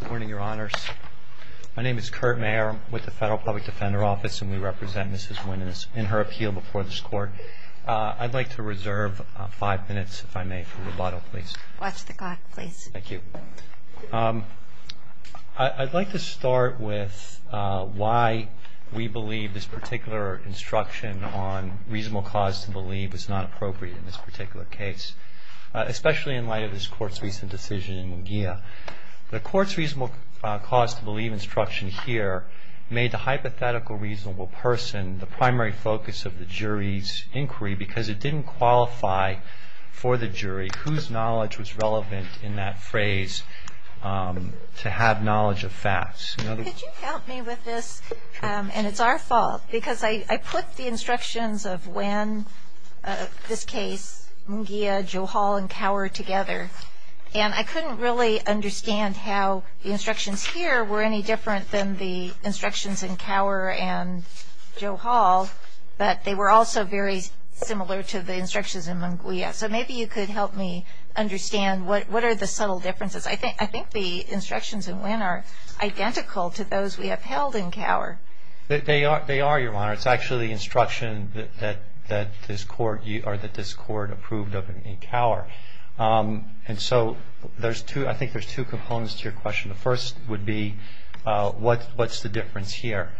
Good morning, your honors. My name is Kurt Mayer. I'm with the Federal Public Defender Office, and we represent Mrs. Nguyen in her appeal before this court. I'd like to reserve five minutes, if I may, for rubato, please. Watch the clock, please. Thank you. I'd like to start with why we believe this particular instruction on reasonable cause to believe is not appropriate in this particular case, especially in light of this Court's recent decision in Munguia. The Court's reasonable cause to believe instruction here made the hypothetical reasonable person the primary focus of the jury's inquiry because it didn't qualify for the jury whose knowledge was relevant in that phrase to have knowledge of facts. Could you help me with this? And it's our fault. Because I put the instructions of Nguyen, of this case, Munguia, Joe Hall, and Cower together, and I couldn't really understand how the instructions here were any different than the instructions in Cower and Joe Hall, but they were also very similar to the instructions in Munguia. So maybe you could help me understand what are the subtle differences. I think the instructions in Nguyen are identical to those we upheld in Cower. They are, Your Honor. It's actually the instruction that this Court approved of in Cower. And so I think there's two components to your question. The first would be what's the difference here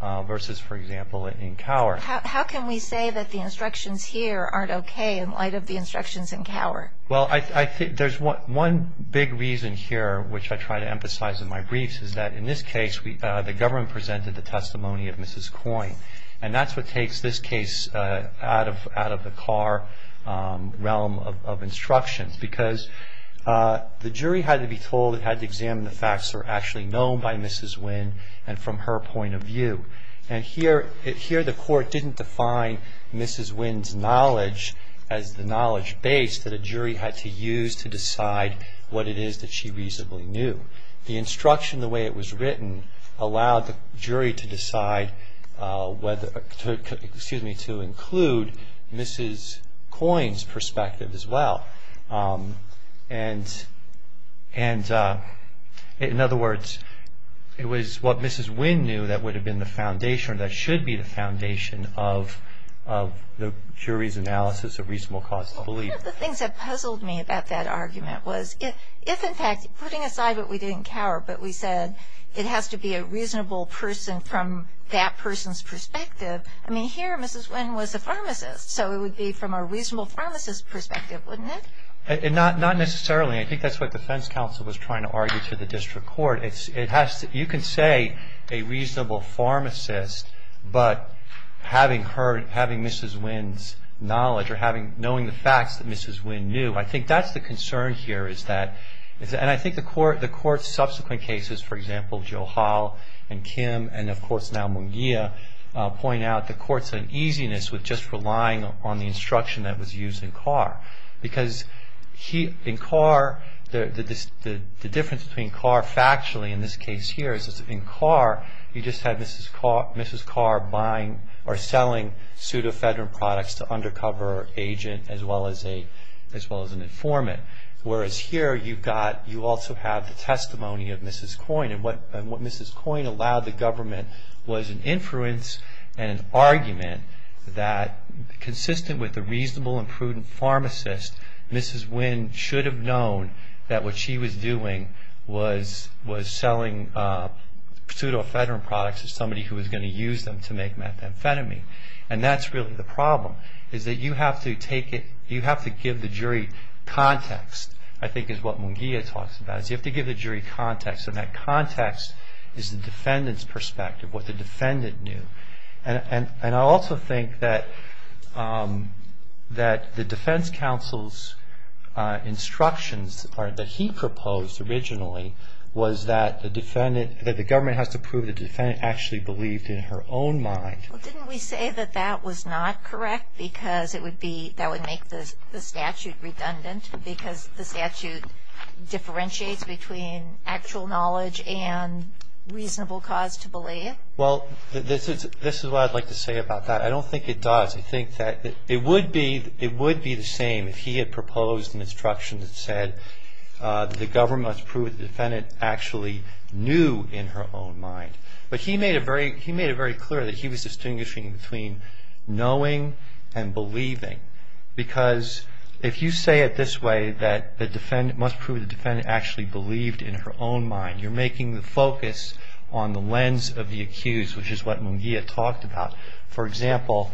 versus, for example, in Cower. How can we say that the instructions here aren't okay in light of the instructions in Cower? Well, I think there's one big reason here, which I try to emphasize in my briefs, is that in this case the government presented the testimony of Mrs. Coyne. And that's what takes this case out of the Cower realm of instructions, because the jury had to be told it had to examine the facts that were actually known by Mrs. Nguyen and from her point of view. And here the Court didn't define Mrs. Nguyen's knowledge as the knowledge base that a jury had to use to decide what it is that she reasonably knew. The instruction, the way it was written, allowed the jury to include Mrs. Coyne's perspective as well. And in other words, it was what Mrs. Nguyen knew that would have been the foundation or that should be the foundation of the jury's analysis of reasonable cause to believe. One of the things that puzzled me about that argument was if, in fact, putting aside what we did in Cower, but we said it has to be a reasonable person from that person's perspective, I mean, here Mrs. Nguyen was a pharmacist, so it would be from a reasonable pharmacist's perspective, wouldn't it? Not necessarily. I think that's what defense counsel was trying to argue to the district court. You can say a reasonable pharmacist, but having Mrs. Nguyen's knowledge or knowing the facts that Mrs. Nguyen knew, I think that's the concern here. And I think the Court's subsequent cases, for example, Joe Hall and Kim, and of course now Munguia, point out the Court's uneasiness with just relying on the instruction that was used in Cower. Because in Cower, the difference between Cower factually in this case here is that in Cower, you just had Mrs. Cower buying or selling pseudo-federal products to undercover agent as well as an informant, whereas here you also have the testimony of Mrs. Coyne. And what Mrs. Coyne allowed the government was an influence and an argument that consistent with the reasonable and prudent pharmacist, Mrs. Nguyen should have known that what she was doing was selling pseudo-federal products to somebody who was going to use them to make methamphetamine. And that's really the problem, is that you have to give the jury context, I think is what Munguia talks about. You have to give the jury context, and that context is the defendant's perspective, what the defendant knew. And I also think that the defense counsel's instructions that he proposed originally was that the government has to prove the defendant actually believed in her own mind. Well, didn't we say that that was not correct because that would make the statute redundant because the statute differentiates between actual knowledge and reasonable cause to believe? Well, this is what I'd like to say about that. I don't think it does. I think that it would be the same if he had proposed an instruction that said the government must prove the defendant actually knew in her own mind. But he made it very clear that he was distinguishing between knowing and believing because if you say it this way, that the defendant must prove the defendant actually believed in her own mind, you're making the focus on the lens of the accused, which is what Munguia talked about. For example,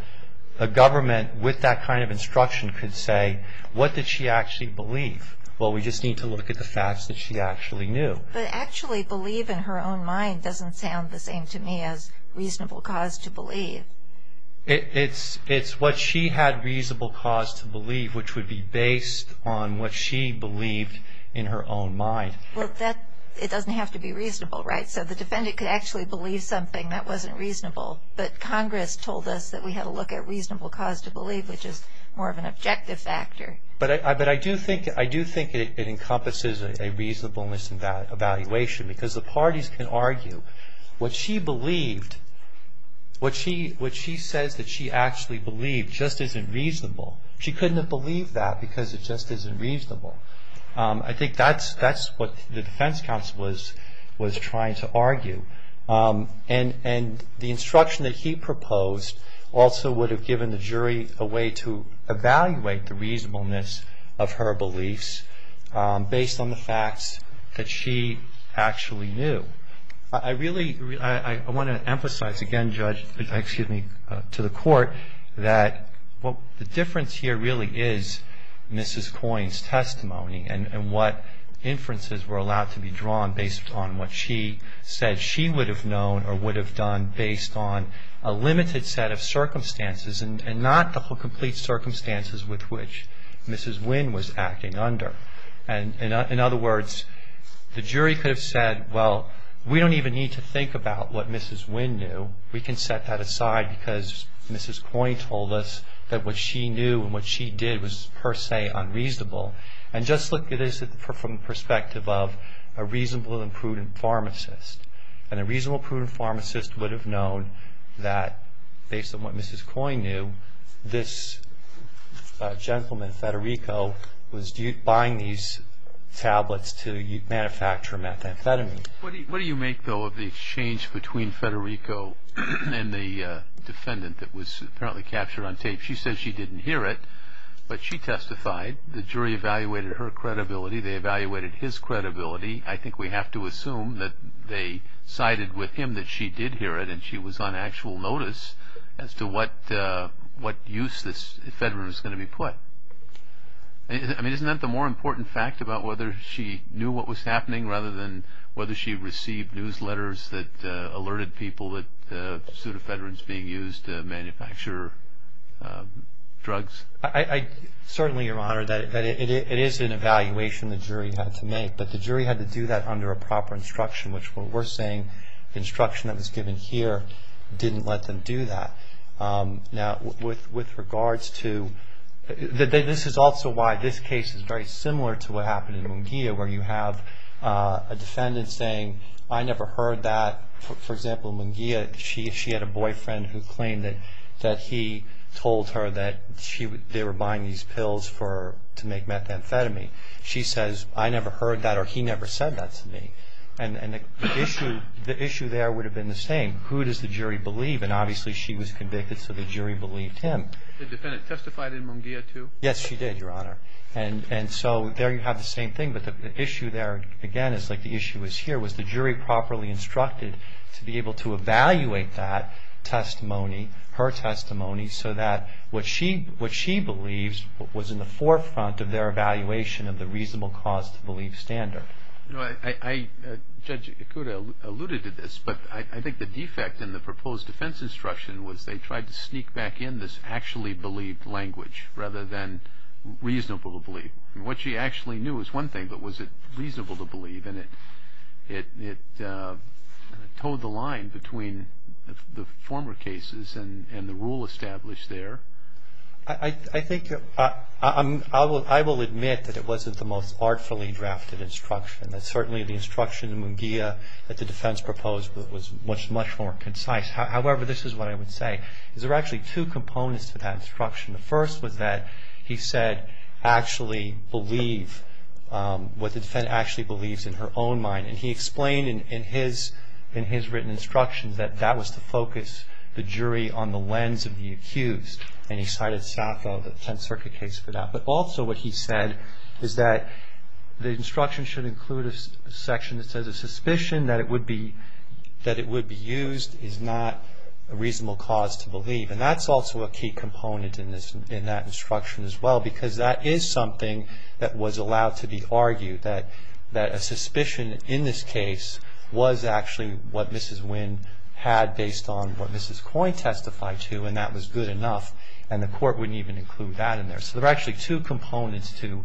a government with that kind of instruction could say, what did she actually believe? Well, we just need to look at the facts that she actually knew. But actually believe in her own mind doesn't sound the same to me as reasonable cause to believe. It's what she had reasonable cause to believe, which would be based on what she believed in her own mind. Well, it doesn't have to be reasonable, right? So the defendant could actually believe something that wasn't reasonable, but Congress told us that we had to look at reasonable cause to believe, which is more of an objective factor. But I do think it encompasses a reasonableness evaluation because the parties can argue. What she believed, what she says that she actually believed just isn't reasonable. She couldn't have believed that because it just isn't reasonable. I think that's what the defense counsel was trying to argue. And the instruction that he proposed also would have given the jury a way to evaluate the reasonableness of her beliefs based on the facts that she actually knew. So I really want to emphasize again, Judge, excuse me, to the Court, that the difference here really is Mrs. Coyne's testimony and what inferences were allowed to be drawn based on what she said she would have known or would have done based on a limited set of circumstances and not the complete circumstances with which Mrs. Wynn was acting under. And in other words, the jury could have said, well, we don't even need to think about what Mrs. Wynn knew. We can set that aside because Mrs. Coyne told us that what she knew and what she did was per se unreasonable. And just look at this from the perspective of a reasonable and prudent pharmacist. And a reasonable and prudent pharmacist would have known that based on what Mrs. Coyne knew, this gentleman, Federico, was buying these tablets to manufacture methamphetamine. What do you make, though, of the exchange between Federico and the defendant that was apparently captured on tape? She said she didn't hear it, but she testified. The jury evaluated her credibility. They evaluated his credibility. I think we have to assume that they sided with him that she did hear it and she was on actual notice as to what use this ephedrine was going to be put. I mean, isn't that the more important fact about whether she knew what was happening rather than whether she received newsletters that alerted people that pseudoephedrine is being used to manufacture drugs? Certainly, Your Honor, it is an evaluation the jury had to make, but the jury had to do that under a proper instruction, which we're saying the instruction that was given here didn't let them do that. Now, with regards to – this is also why this case is very similar to what happened in Munguia, where you have a defendant saying, I never heard that. For example, in Munguia, she had a boyfriend who claimed that he told her that they were buying these pills to make methamphetamine. She says, I never heard that or he never said that to me. And the issue there would have been the same. Who does the jury believe? And obviously, she was convicted, so the jury believed him. The defendant testified in Munguia, too? Yes, she did, Your Honor. And so there you have the same thing, but the issue there, again, is like the issue is here. Was the jury properly instructed to be able to evaluate that testimony, her testimony, so that what she believes was in the forefront of their evaluation of the reasonable cause to believe standard? You know, Judge Ikuda alluded to this, but I think the defect in the proposed defense instruction was they tried to sneak back in this actually believed language rather than reasonable to believe. I mean, what she actually knew was one thing, but was it reasonable to believe? And it towed the line between the former cases and the rule established there. I think I will admit that it wasn't the most artfully drafted instruction, that certainly the instruction in Munguia that the defense proposed was much more concise. However, this is what I would say, is there are actually two components to that instruction. The first was that he said actually believe what the defendant actually believes in her own mind, and he explained in his written instructions that that was to focus the jury on the lens of the accused, and he cited Saffo, the Tenth Circuit case for that. But also what he said is that the instruction should include a section that says a suspicion that it would be used is not a reasonable cause to believe, and that's also a key component in that instruction as well, because that is something that was allowed to be argued, that a suspicion in this case was actually what Mrs. Wynn had based on what Mrs. Coyne testified to, and that was good enough, and the court wouldn't even include that in there. So there are actually two components to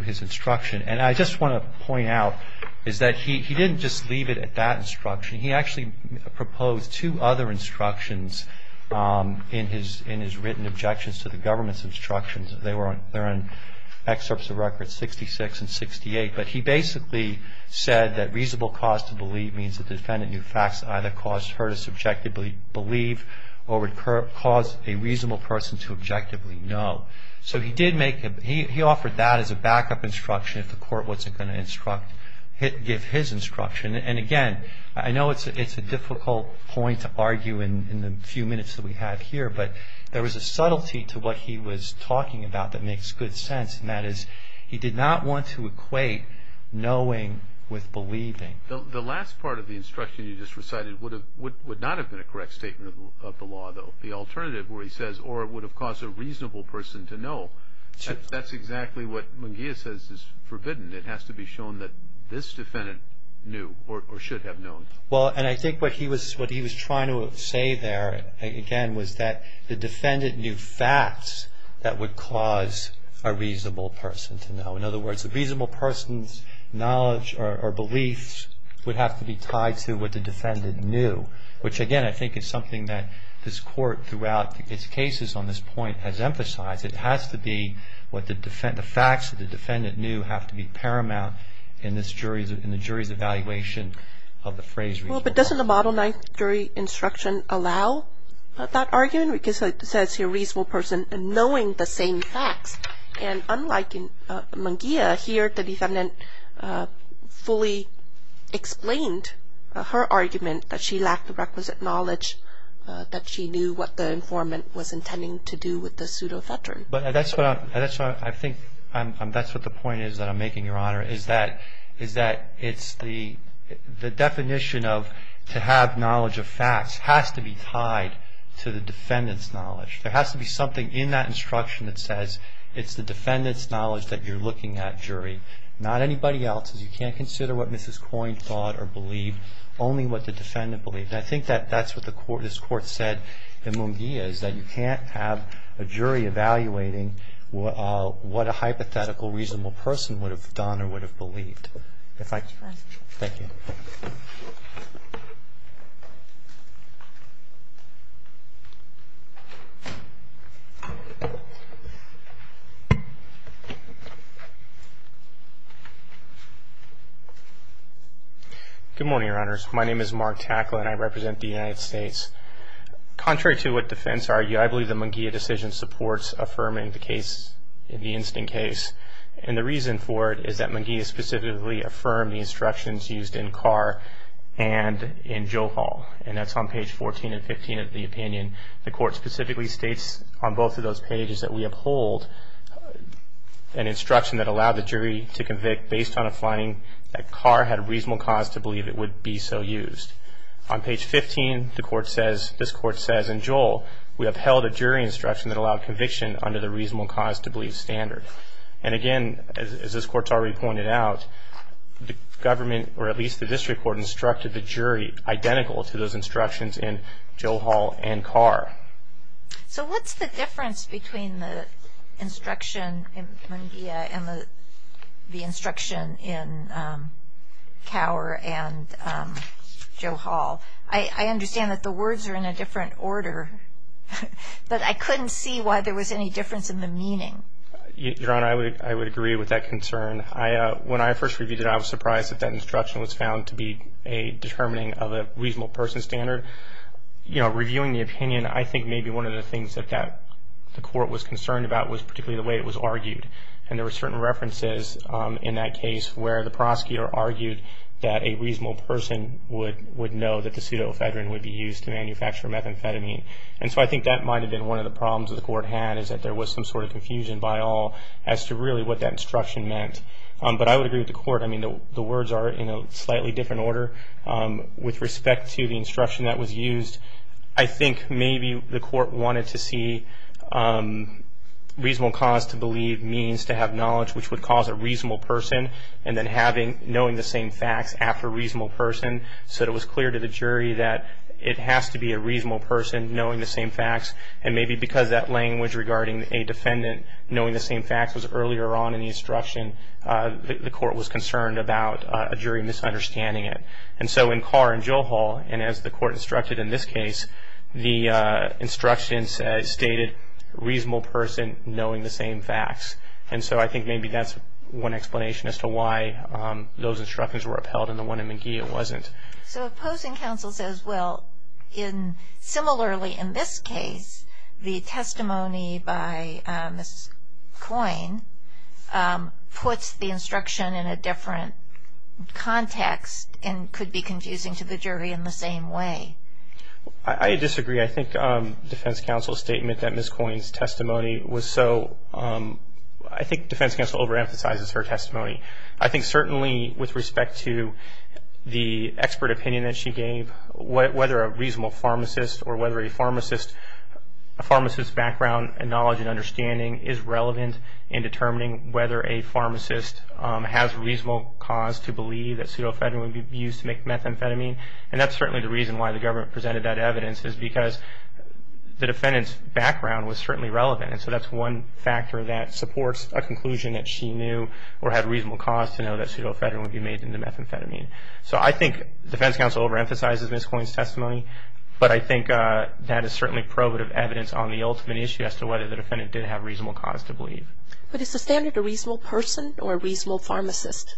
his instruction. And I just want to point out is that he didn't just leave it at that instruction. He actually proposed two other instructions in his written objections to the government's instructions. They're in Excerpts of Records 66 and 68, but he basically said that reasonable cause to believe means the defendant knew facts that either caused her to subjectively believe or would cause a reasonable person to objectively know. So he did make a, he offered that as a backup instruction if the court wasn't going to instruct, give his instruction. And again, I know it's a difficult point to argue in the few minutes that we have here, but there was a subtlety to what he was talking about that makes good sense, and that is he did not want to equate knowing with believing. The last part of the instruction you just recited would not have been a correct statement of the law, though. The alternative where he says, or it would have caused a reasonable person to know, that's exactly what Munguia says is forbidden. It has to be shown that this defendant knew or should have known. Well, and I think what he was trying to say there, again, was that the defendant knew facts that would cause a reasonable person to know. In other words, a reasonable person's knowledge or beliefs would have to be tied to what the defendant knew, which, again, I think is something that this court throughout its cases on this point has emphasized. It has to be what the facts that the defendant knew have to be paramount in the jury's evaluation of the phrase reasonable. Well, but doesn't the Model 9 jury instruction allow that argument? Because it says here, reasonable person knowing the same facts. And unlike Munguia here, the defendant fully explained her argument that she lacked the requisite knowledge, that she knew what the informant was intending to do with the pseudo-veteran. But that's what I think, that's what the point is that I'm making, Your Honor, is that it's the definition of to have knowledge of facts has to be tied to the defendant's knowledge. There has to be something in that instruction that says it's the defendant's knowledge that you're looking at, jury, not anybody else's. You can't consider what Mrs. Coyne thought or believed, only what the defendant believed. And I think that's what this court said in Munguia, is that you can't have a jury evaluating what a hypothetical reasonable person would have done or would have believed. Thank you. Good morning, Your Honors. My name is Mark Tackle, and I represent the United States. Contrary to what defense argue, I believe the Munguia decision supports affirming the case, the instant case. And the reason for it is that Munguia specifically affirmed the instructions used in Carr and in Joe Hall. And that's on page 14 and 15 of the opinion. The court specifically states on both of those pages that we uphold an instruction that allowed the jury to convict based on a finding that Carr had a reasonable cause to believe it would be so used. On page 15, the court says, this court says in Joel, we upheld a jury instruction that allowed conviction under the reasonable cause to believe standard. And again, as this court's already pointed out, the government, or at least the district court, instructed the jury identical to those instructions in Joe Hall and Carr. So what's the difference between the instruction in Munguia and the instruction in Carr and Joe Hall? I understand that the words are in a different order, but I couldn't see why there was any difference in the meaning. Your Honor, I would agree with that concern. When I first reviewed it, I was surprised that that instruction was found to be a determining of a reasonable person standard. Reviewing the opinion, I think maybe one of the things that the court was concerned about was particularly the way it was argued. And there were certain references in that case where the prosecutor argued that a reasonable person would know that the pseudoephedrine would be used to manufacture methamphetamine. And so I think that might have been one of the problems that the court had, is that there was some sort of confusion by all as to really what that instruction meant. But I would agree with the court. I mean, the words are in a slightly different order. With respect to the instruction that was used, I think maybe the court wanted to see reasonable cause to believe means to have knowledge, which would cause a reasonable person, and then knowing the same facts after reasonable person. So it was clear to the jury that it has to be a reasonable person knowing the same facts. And maybe because that language regarding a defendant knowing the same facts was earlier on in the instruction, the court was concerned about a jury misunderstanding it. And so in Carr and Joe Hall, and as the court instructed in this case, the instruction stated reasonable person knowing the same facts. And so I think maybe that's one explanation as to why those instructions were upheld and the one in McGee wasn't. So opposing counsel says, well, similarly in this case, the testimony by Ms. Coyne puts the instruction in a different context and could be confusing to the jury in the same way. I disagree. I think defense counsel's statement that Ms. Coyne's testimony was so, I think defense counsel overemphasizes her testimony. I think certainly with respect to the expert opinion that she gave, whether a reasonable pharmacist or whether a pharmacist's background and knowledge and understanding is relevant in determining whether a pharmacist has reasonable cause to believe that pseudo-amphetamine would be used to make methamphetamine. And that's certainly the reason why the government presented that evidence, is because the defendant's background was certainly relevant. And so that's one factor that supports a conclusion that she knew or had reasonable cause to know that pseudo-amphetamine would be made into methamphetamine. So I think defense counsel overemphasizes Ms. Coyne's testimony, but I think that is certainly probative evidence on the ultimate issue as to whether the defendant did have reasonable cause to believe. But is the standard a reasonable person or a reasonable pharmacist?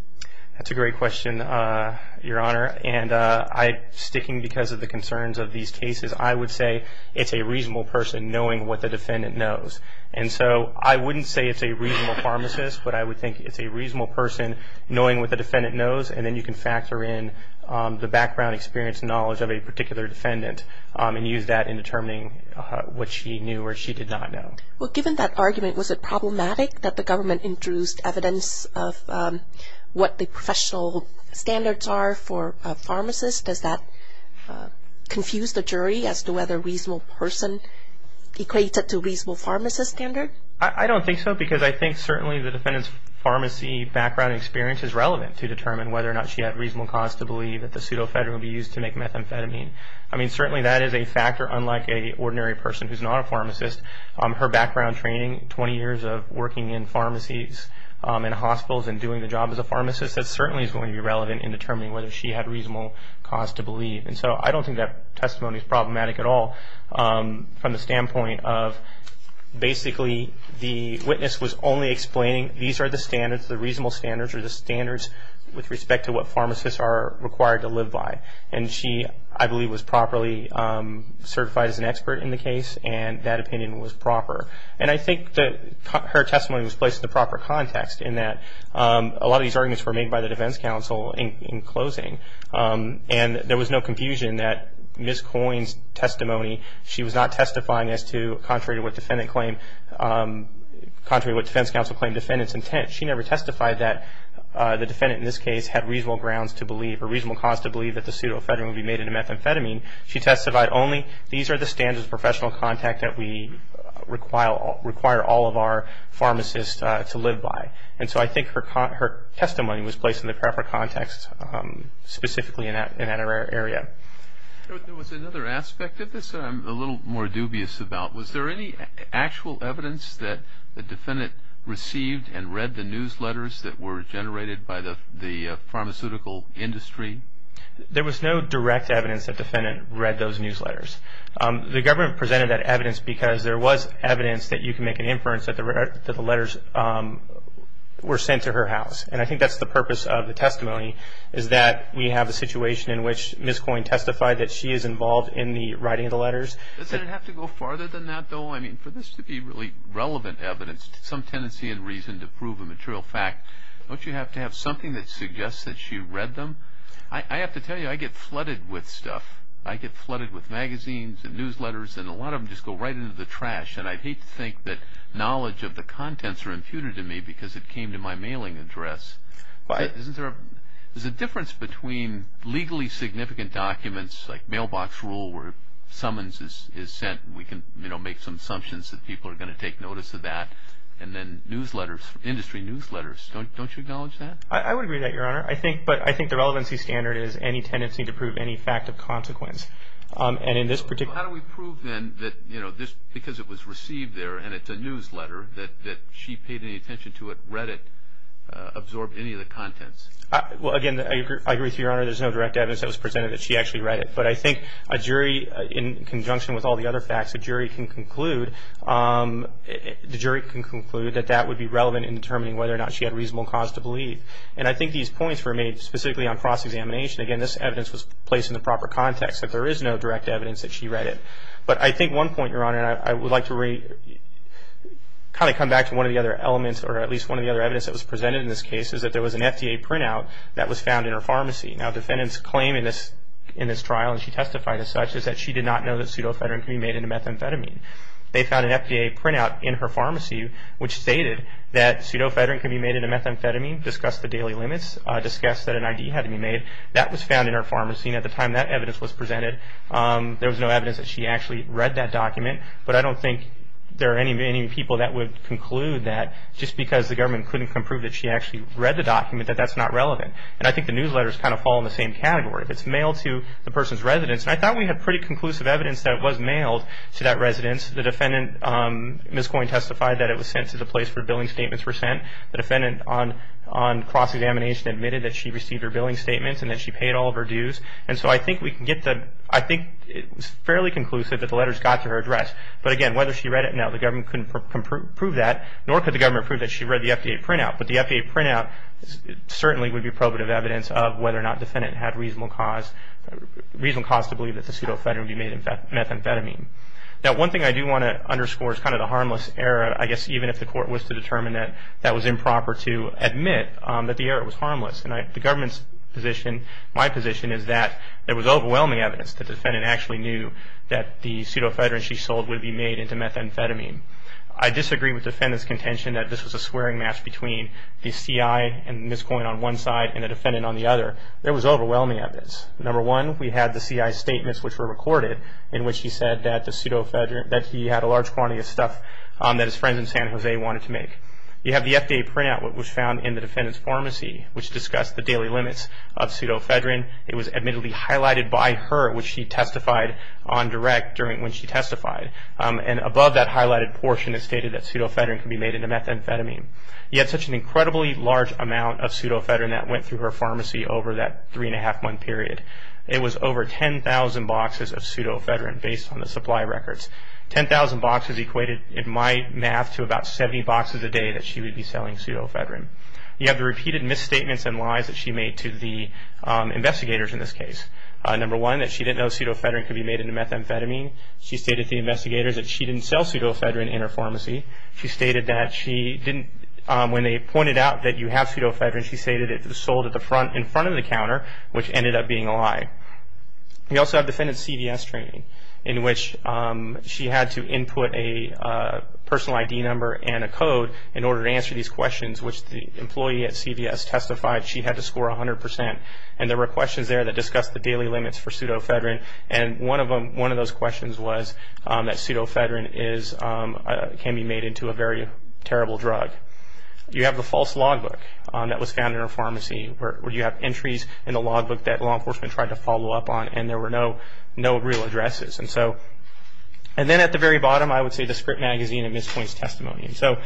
That's a great question, Your Honor. And sticking because of the concerns of these cases, I would say it's a reasonable person knowing what the defendant knows. And so I wouldn't say it's a reasonable pharmacist, but I would think it's a reasonable person knowing what the defendant knows, and then you can factor in the background experience and knowledge of a particular defendant and use that in determining what she knew or she did not know. Well, given that argument, was it problematic that the government introduced evidence of what the professional standards are for pharmacists? Does that confuse the jury as to whether a reasonable person equates to a reasonable pharmacist standard? I don't think so, because I think certainly the defendant's pharmacy background experience is relevant to determine whether or not she had reasonable cause to believe that the pseudo-amphetamine would be used to make methamphetamine. I mean, certainly that is a factor, unlike an ordinary person who's not a pharmacist. Her background training, 20 years of working in pharmacies and hospitals and doing the job as a pharmacist, that certainly is going to be relevant in determining whether she had reasonable cause to believe. And so I don't think that testimony is problematic at all from the standpoint of basically the witness was only explaining these are the standards, the reasonable standards are the standards with respect to what pharmacists are required to live by. And she, I believe, was properly certified as an expert in the case, and that opinion was proper. And I think that her testimony was placed in the proper context in that a lot of these arguments were made by the defense counsel in closing. And there was no confusion that Ms. Coyne's testimony, she was not testifying as to contrary to what defense counsel claimed defendant's intent. She never testified that the defendant in this case had reasonable grounds to believe or reasonable cause to believe that the pseudo-amphetamine would be made into methamphetamine. She testified only these are the standards of professional contact that we require all of our pharmacists to live by. And so I think her testimony was placed in the proper context specifically in that area. There was another aspect of this that I'm a little more dubious about. Was there any actual evidence that the defendant received and read the newsletters that were generated by the pharmaceutical industry? There was no direct evidence that the defendant read those newsletters. The government presented that evidence because there was evidence that you can make an inference that the letters were sent to her house. And I think that's the purpose of the testimony is that we have a situation in which Ms. Coyne testified that she is involved in the writing of the letters. Does it have to go farther than that though? I mean for this to be really relevant evidence, some tendency and reason to prove a material fact, don't you have to have something that suggests that she read them? I have to tell you I get flooded with stuff. I get flooded with magazines and newsletters and a lot of them just go right into the trash. And I hate to think that knowledge of the contents are imputed to me because it came to my mailing address. There's a difference between legally significant documents like mailbox rule where summons is sent and we can make some assumptions that people are going to take notice of that and then industry newsletters. Don't you acknowledge that? I would agree to that, Your Honor. But I think the relevancy standard is any tendency to prove any fact of consequence. How do we prove then that because it was received there and it's a newsletter, that she paid any attention to it, read it, absorbed any of the contents? Well, again, I agree with you, Your Honor. There's no direct evidence that was presented that she actually read it. But I think a jury in conjunction with all the other facts, the jury can conclude that that would be relevant in determining whether or not she had reasonable cause to believe. And I think these points were made specifically on cross-examination. Again, this evidence was placed in the proper context that there is no direct evidence that she read it. But I think one point, Your Honor, I would like to kind of come back to one of the other elements or at least one of the other evidence that was presented in this case is that there was an FDA printout that was found in her pharmacy. Now, defendants claim in this trial, and she testified as such, is that she did not know that pseudofedrin can be made into methamphetamine. They found an FDA printout in her pharmacy which stated that pseudofedrin can be made into methamphetamine, discussed the daily limits, discussed that an ID had to be made. That was found in her pharmacy. And at the time that evidence was presented, there was no evidence that she actually read that document. But I don't think there are any people that would conclude that just because the government couldn't come prove that she actually read the document, that that's not relevant. And I think the newsletters kind of fall in the same category. If it's mailed to the person's residence, and I thought we had pretty conclusive evidence that it was mailed to that residence. The defendant, Ms. Coyne, testified that it was sent to the place where billing statements were sent. The defendant on cross-examination admitted that she received her billing statements and that she paid all of her dues. And so I think we can get the, I think it's fairly conclusive that the letters got to her address. But again, whether she read it or not, the government couldn't prove that, nor could the government prove that she read the FDA printout. But the FDA printout certainly would be probative evidence of whether or not the defendant had reasonable cause, reasonable cause to believe that the pseudofedrin would be made into methamphetamine. Now one thing I do want to underscore is kind of the harmless error, but I guess even if the court was to determine that that was improper to admit, that the error was harmless. And the government's position, my position, is that there was overwhelming evidence that the defendant actually knew that the pseudofedrin she sold would be made into methamphetamine. I disagree with the defendant's contention that this was a swearing match between the CI and Ms. Coyne on one side and the defendant on the other. There was overwhelming evidence. Number one, we had the CI's statements, which were recorded, in which she said that the pseudofedrin, that he had a large quantity of stuff that his friends in San Jose wanted to make. You have the FDA printout, which was found in the defendant's pharmacy, which discussed the daily limits of pseudofedrin. It was admittedly highlighted by her, which she testified on direct when she testified. And above that highlighted portion, it stated that pseudofedrin could be made into methamphetamine. You had such an incredibly large amount of pseudofedrin that went through her pharmacy over that three-and-a-half-month period. It was over 10,000 boxes of pseudofedrin based on the supply records. 10,000 boxes equated, in my math, to about 70 boxes a day that she would be selling pseudofedrin. You have the repeated misstatements and lies that she made to the investigators in this case. Number one, that she didn't know pseudofedrin could be made into methamphetamine. She stated to the investigators that she didn't sell pseudofedrin in her pharmacy. She stated that she didn't, when they pointed out that you have pseudofedrin, she stated it was sold in front of the counter, which ended up being a lie. We also have defendant's CVS training, in which she had to input a personal ID number and a code in order to answer these questions, which the employee at CVS testified she had to score 100%. And there were questions there that discussed the daily limits for pseudofedrin, and one of those questions was that pseudofedrin can be made into a very terrible drug. You have the false logbook that was found in her pharmacy, where you have entries in the logbook that law enforcement tried to follow up on, and there were no real addresses. And then at the very bottom, I would say the script magazine and mispoints testimony. And so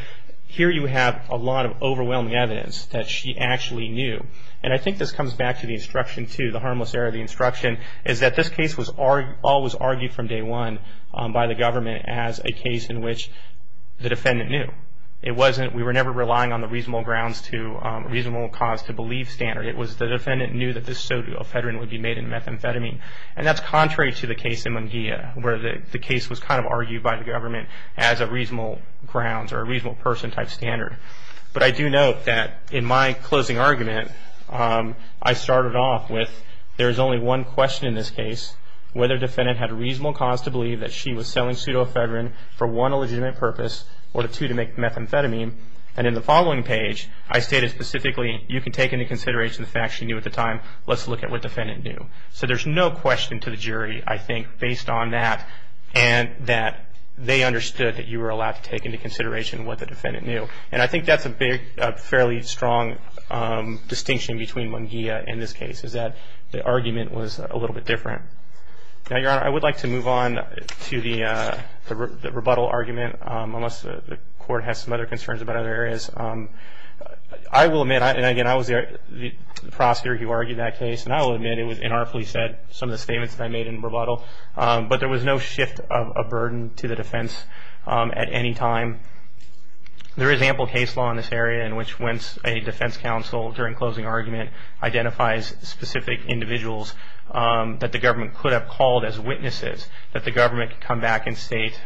here you have a lot of overwhelming evidence that she actually knew. And I think this comes back to the instruction, too, the harmless error of the instruction, is that this case was always argued from day one by the government as a case in which the defendant knew. We were never relying on the reasonable cause to believe standard. It was the defendant knew that this pseudofedrin would be made into methamphetamine. And that's contrary to the case in Munguia, where the case was kind of argued by the government as a reasonable grounds or a reasonable person type standard. But I do note that in my closing argument, I started off with there is only one question in this case, whether the defendant had a reasonable cause to believe that she was selling pseudofedrin for one, a legitimate purpose, or two, to make methamphetamine. And in the following page, I stated specifically, you can take into consideration the facts she knew at the time. Let's look at what the defendant knew. So there's no question to the jury, I think, based on that, and that they understood that you were allowed to take into consideration what the defendant knew. And I think that's a fairly strong distinction between Munguia in this case, is that the argument was a little bit different. Now, Your Honor, I would like to move on to the rebuttal argument, unless the Court has some other concerns about other areas. I will admit, and again, I was the prosecutor who argued that case, and I will admit it was inartfully said, some of the statements that I made in rebuttal, but there was no shift of burden to the defense at any time. There is ample case law in this area in which when a defense counsel, during closing argument, identifies specific individuals that the government could have called as witnesses, that the government could come back and state,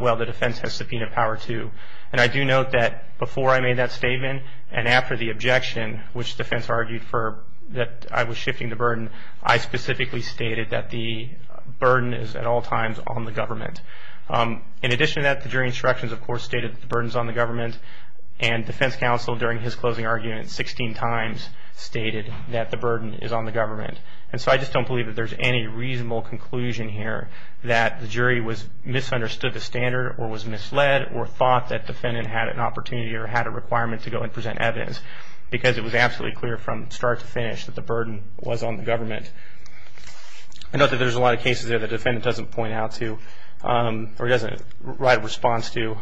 well, the defense has subpoena power to. And I do note that before I made that statement, and after the objection, which the defense argued that I was shifting the burden, I specifically stated that the burden is at all times on the government. In addition to that, the jury instructions, of course, stated that the burden is on the government, and defense counsel, during his closing argument, 16 times stated that the burden is on the government. And so I just don't believe that there's any reasonable conclusion here that the jury misunderstood the standard or was misled or thought that defendant had an opportunity or had a requirement to go and present evidence, because it was absolutely clear from start to finish that the burden was on the government. I know that there's a lot of cases there that the defendant doesn't point out to, or doesn't write a response to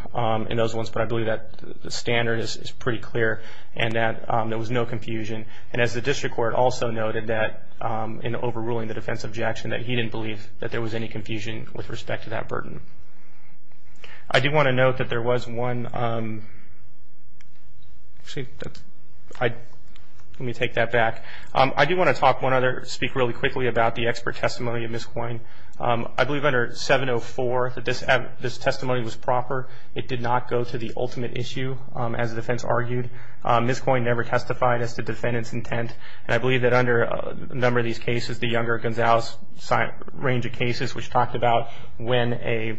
in those ones, but I believe that the standard is pretty clear and that there was no confusion. And as the district court also noted that in overruling the defense objection, that he didn't believe that there was any confusion with respect to that burden. I do want to note that there was one – let me take that back. I do want to talk one other – speak really quickly about the expert testimony of Ms. Coyne. I believe under 704 that this testimony was proper. It did not go to the ultimate issue, as the defense argued. Ms. Coyne never testified as to defendant's intent, and I believe that under a number of these cases, the Younger-Gonzalez range of cases, which talked about when a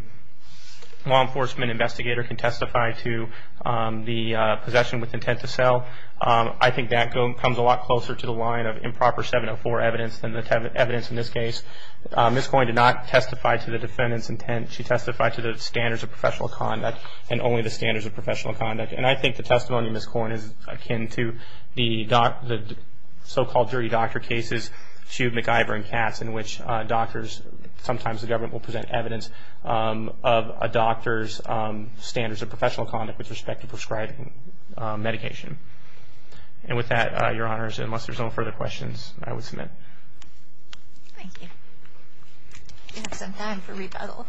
law enforcement investigator can testify to the possession with intent to sell, I think that comes a lot closer to the line of improper 704 evidence than the evidence in this case. Ms. Coyne did not testify to the defendant's intent. She testified to the standards of professional conduct and only the standards of professional conduct. And I think the testimony of Ms. Coyne is akin to the so-called dirty doctor cases, to MacIvor and Katz, in which doctors – sometimes the government will present evidence of a doctor's standards of professional conduct with respect to prescribing medication. And with that, Your Honors, unless there's no further questions, I would submit. Thank you. We have some time for rebuttal.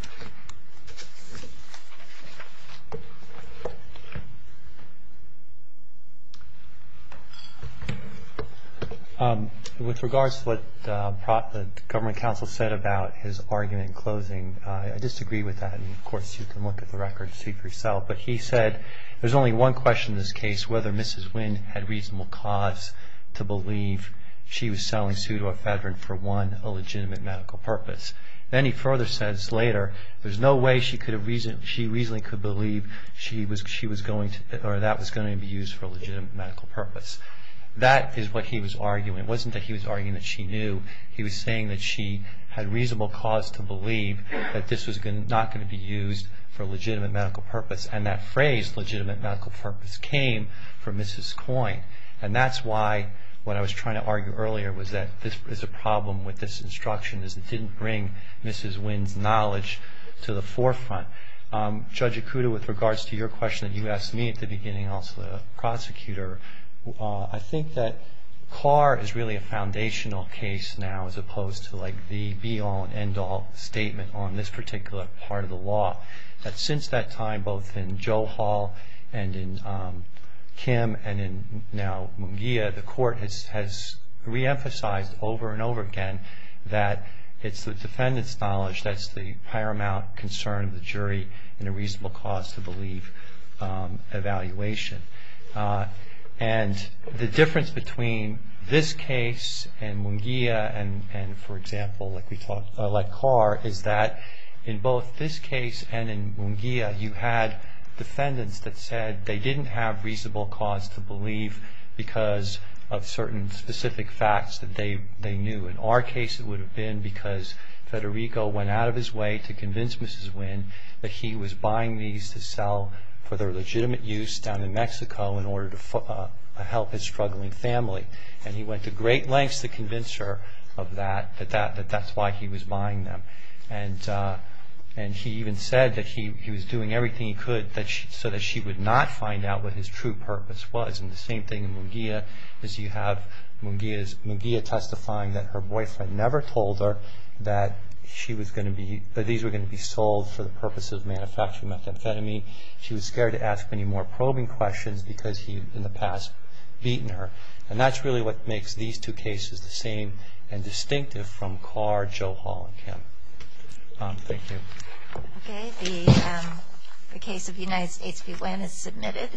With regards to what the government counsel said about his argument in closing, I disagree with that. And, of course, you can look at the record to see for yourself. But he said there's only one question in this case, which is whether Mrs. Wynne had reasonable cause to believe she was selling pseudoephedrine for, one, a legitimate medical purpose. Then he further says later, there's no way she reasonably could believe that was going to be used for a legitimate medical purpose. That is what he was arguing. It wasn't that he was arguing that she knew. He was saying that she had reasonable cause to believe that this was not going to be used for a legitimate medical purpose. And that phrase, legitimate medical purpose, came from Mrs. Coyne. And that's why what I was trying to argue earlier was that there's a problem with this instruction, is it didn't bring Mrs. Wynne's knowledge to the forefront. Judge Ikuda, with regards to your question that you asked me at the beginning, also the prosecutor, I think that Carr is really a foundational case now, as opposed to, like, the be-all and end-all statement on this particular part of the law. Since that time, both in Joe Hall and in Kim and in, now, Munguia, the court has reemphasized over and over again that it's the defendant's knowledge, that's the paramount concern of the jury in a reasonable cause to believe evaluation. And the difference between this case and Munguia and, for example, like Carr, is that in both this case and in Munguia, you had defendants that said they didn't have reasonable cause to believe because of certain specific facts that they knew. In our case, it would have been because Federico went out of his way to convince Mrs. Wynne that he was buying these to sell for their legitimate use down in Mexico in order to help his struggling family. And he went to great lengths to convince her of that, that that's why he was buying them. And he even said that he was doing everything he could so that she would not find out what his true purpose was. And the same thing in Munguia, as you have Munguia testifying that her boyfriend never told her that these were going to be sold for the purpose of manufacturing methamphetamine. She was scared to ask many more probing questions because he had in the past beaten her. And that's really what makes these two cases the same and distinctive from Carr, Joe Hall, and Kim. Thank you. Okay. The case of United States v. Wynne is submitted.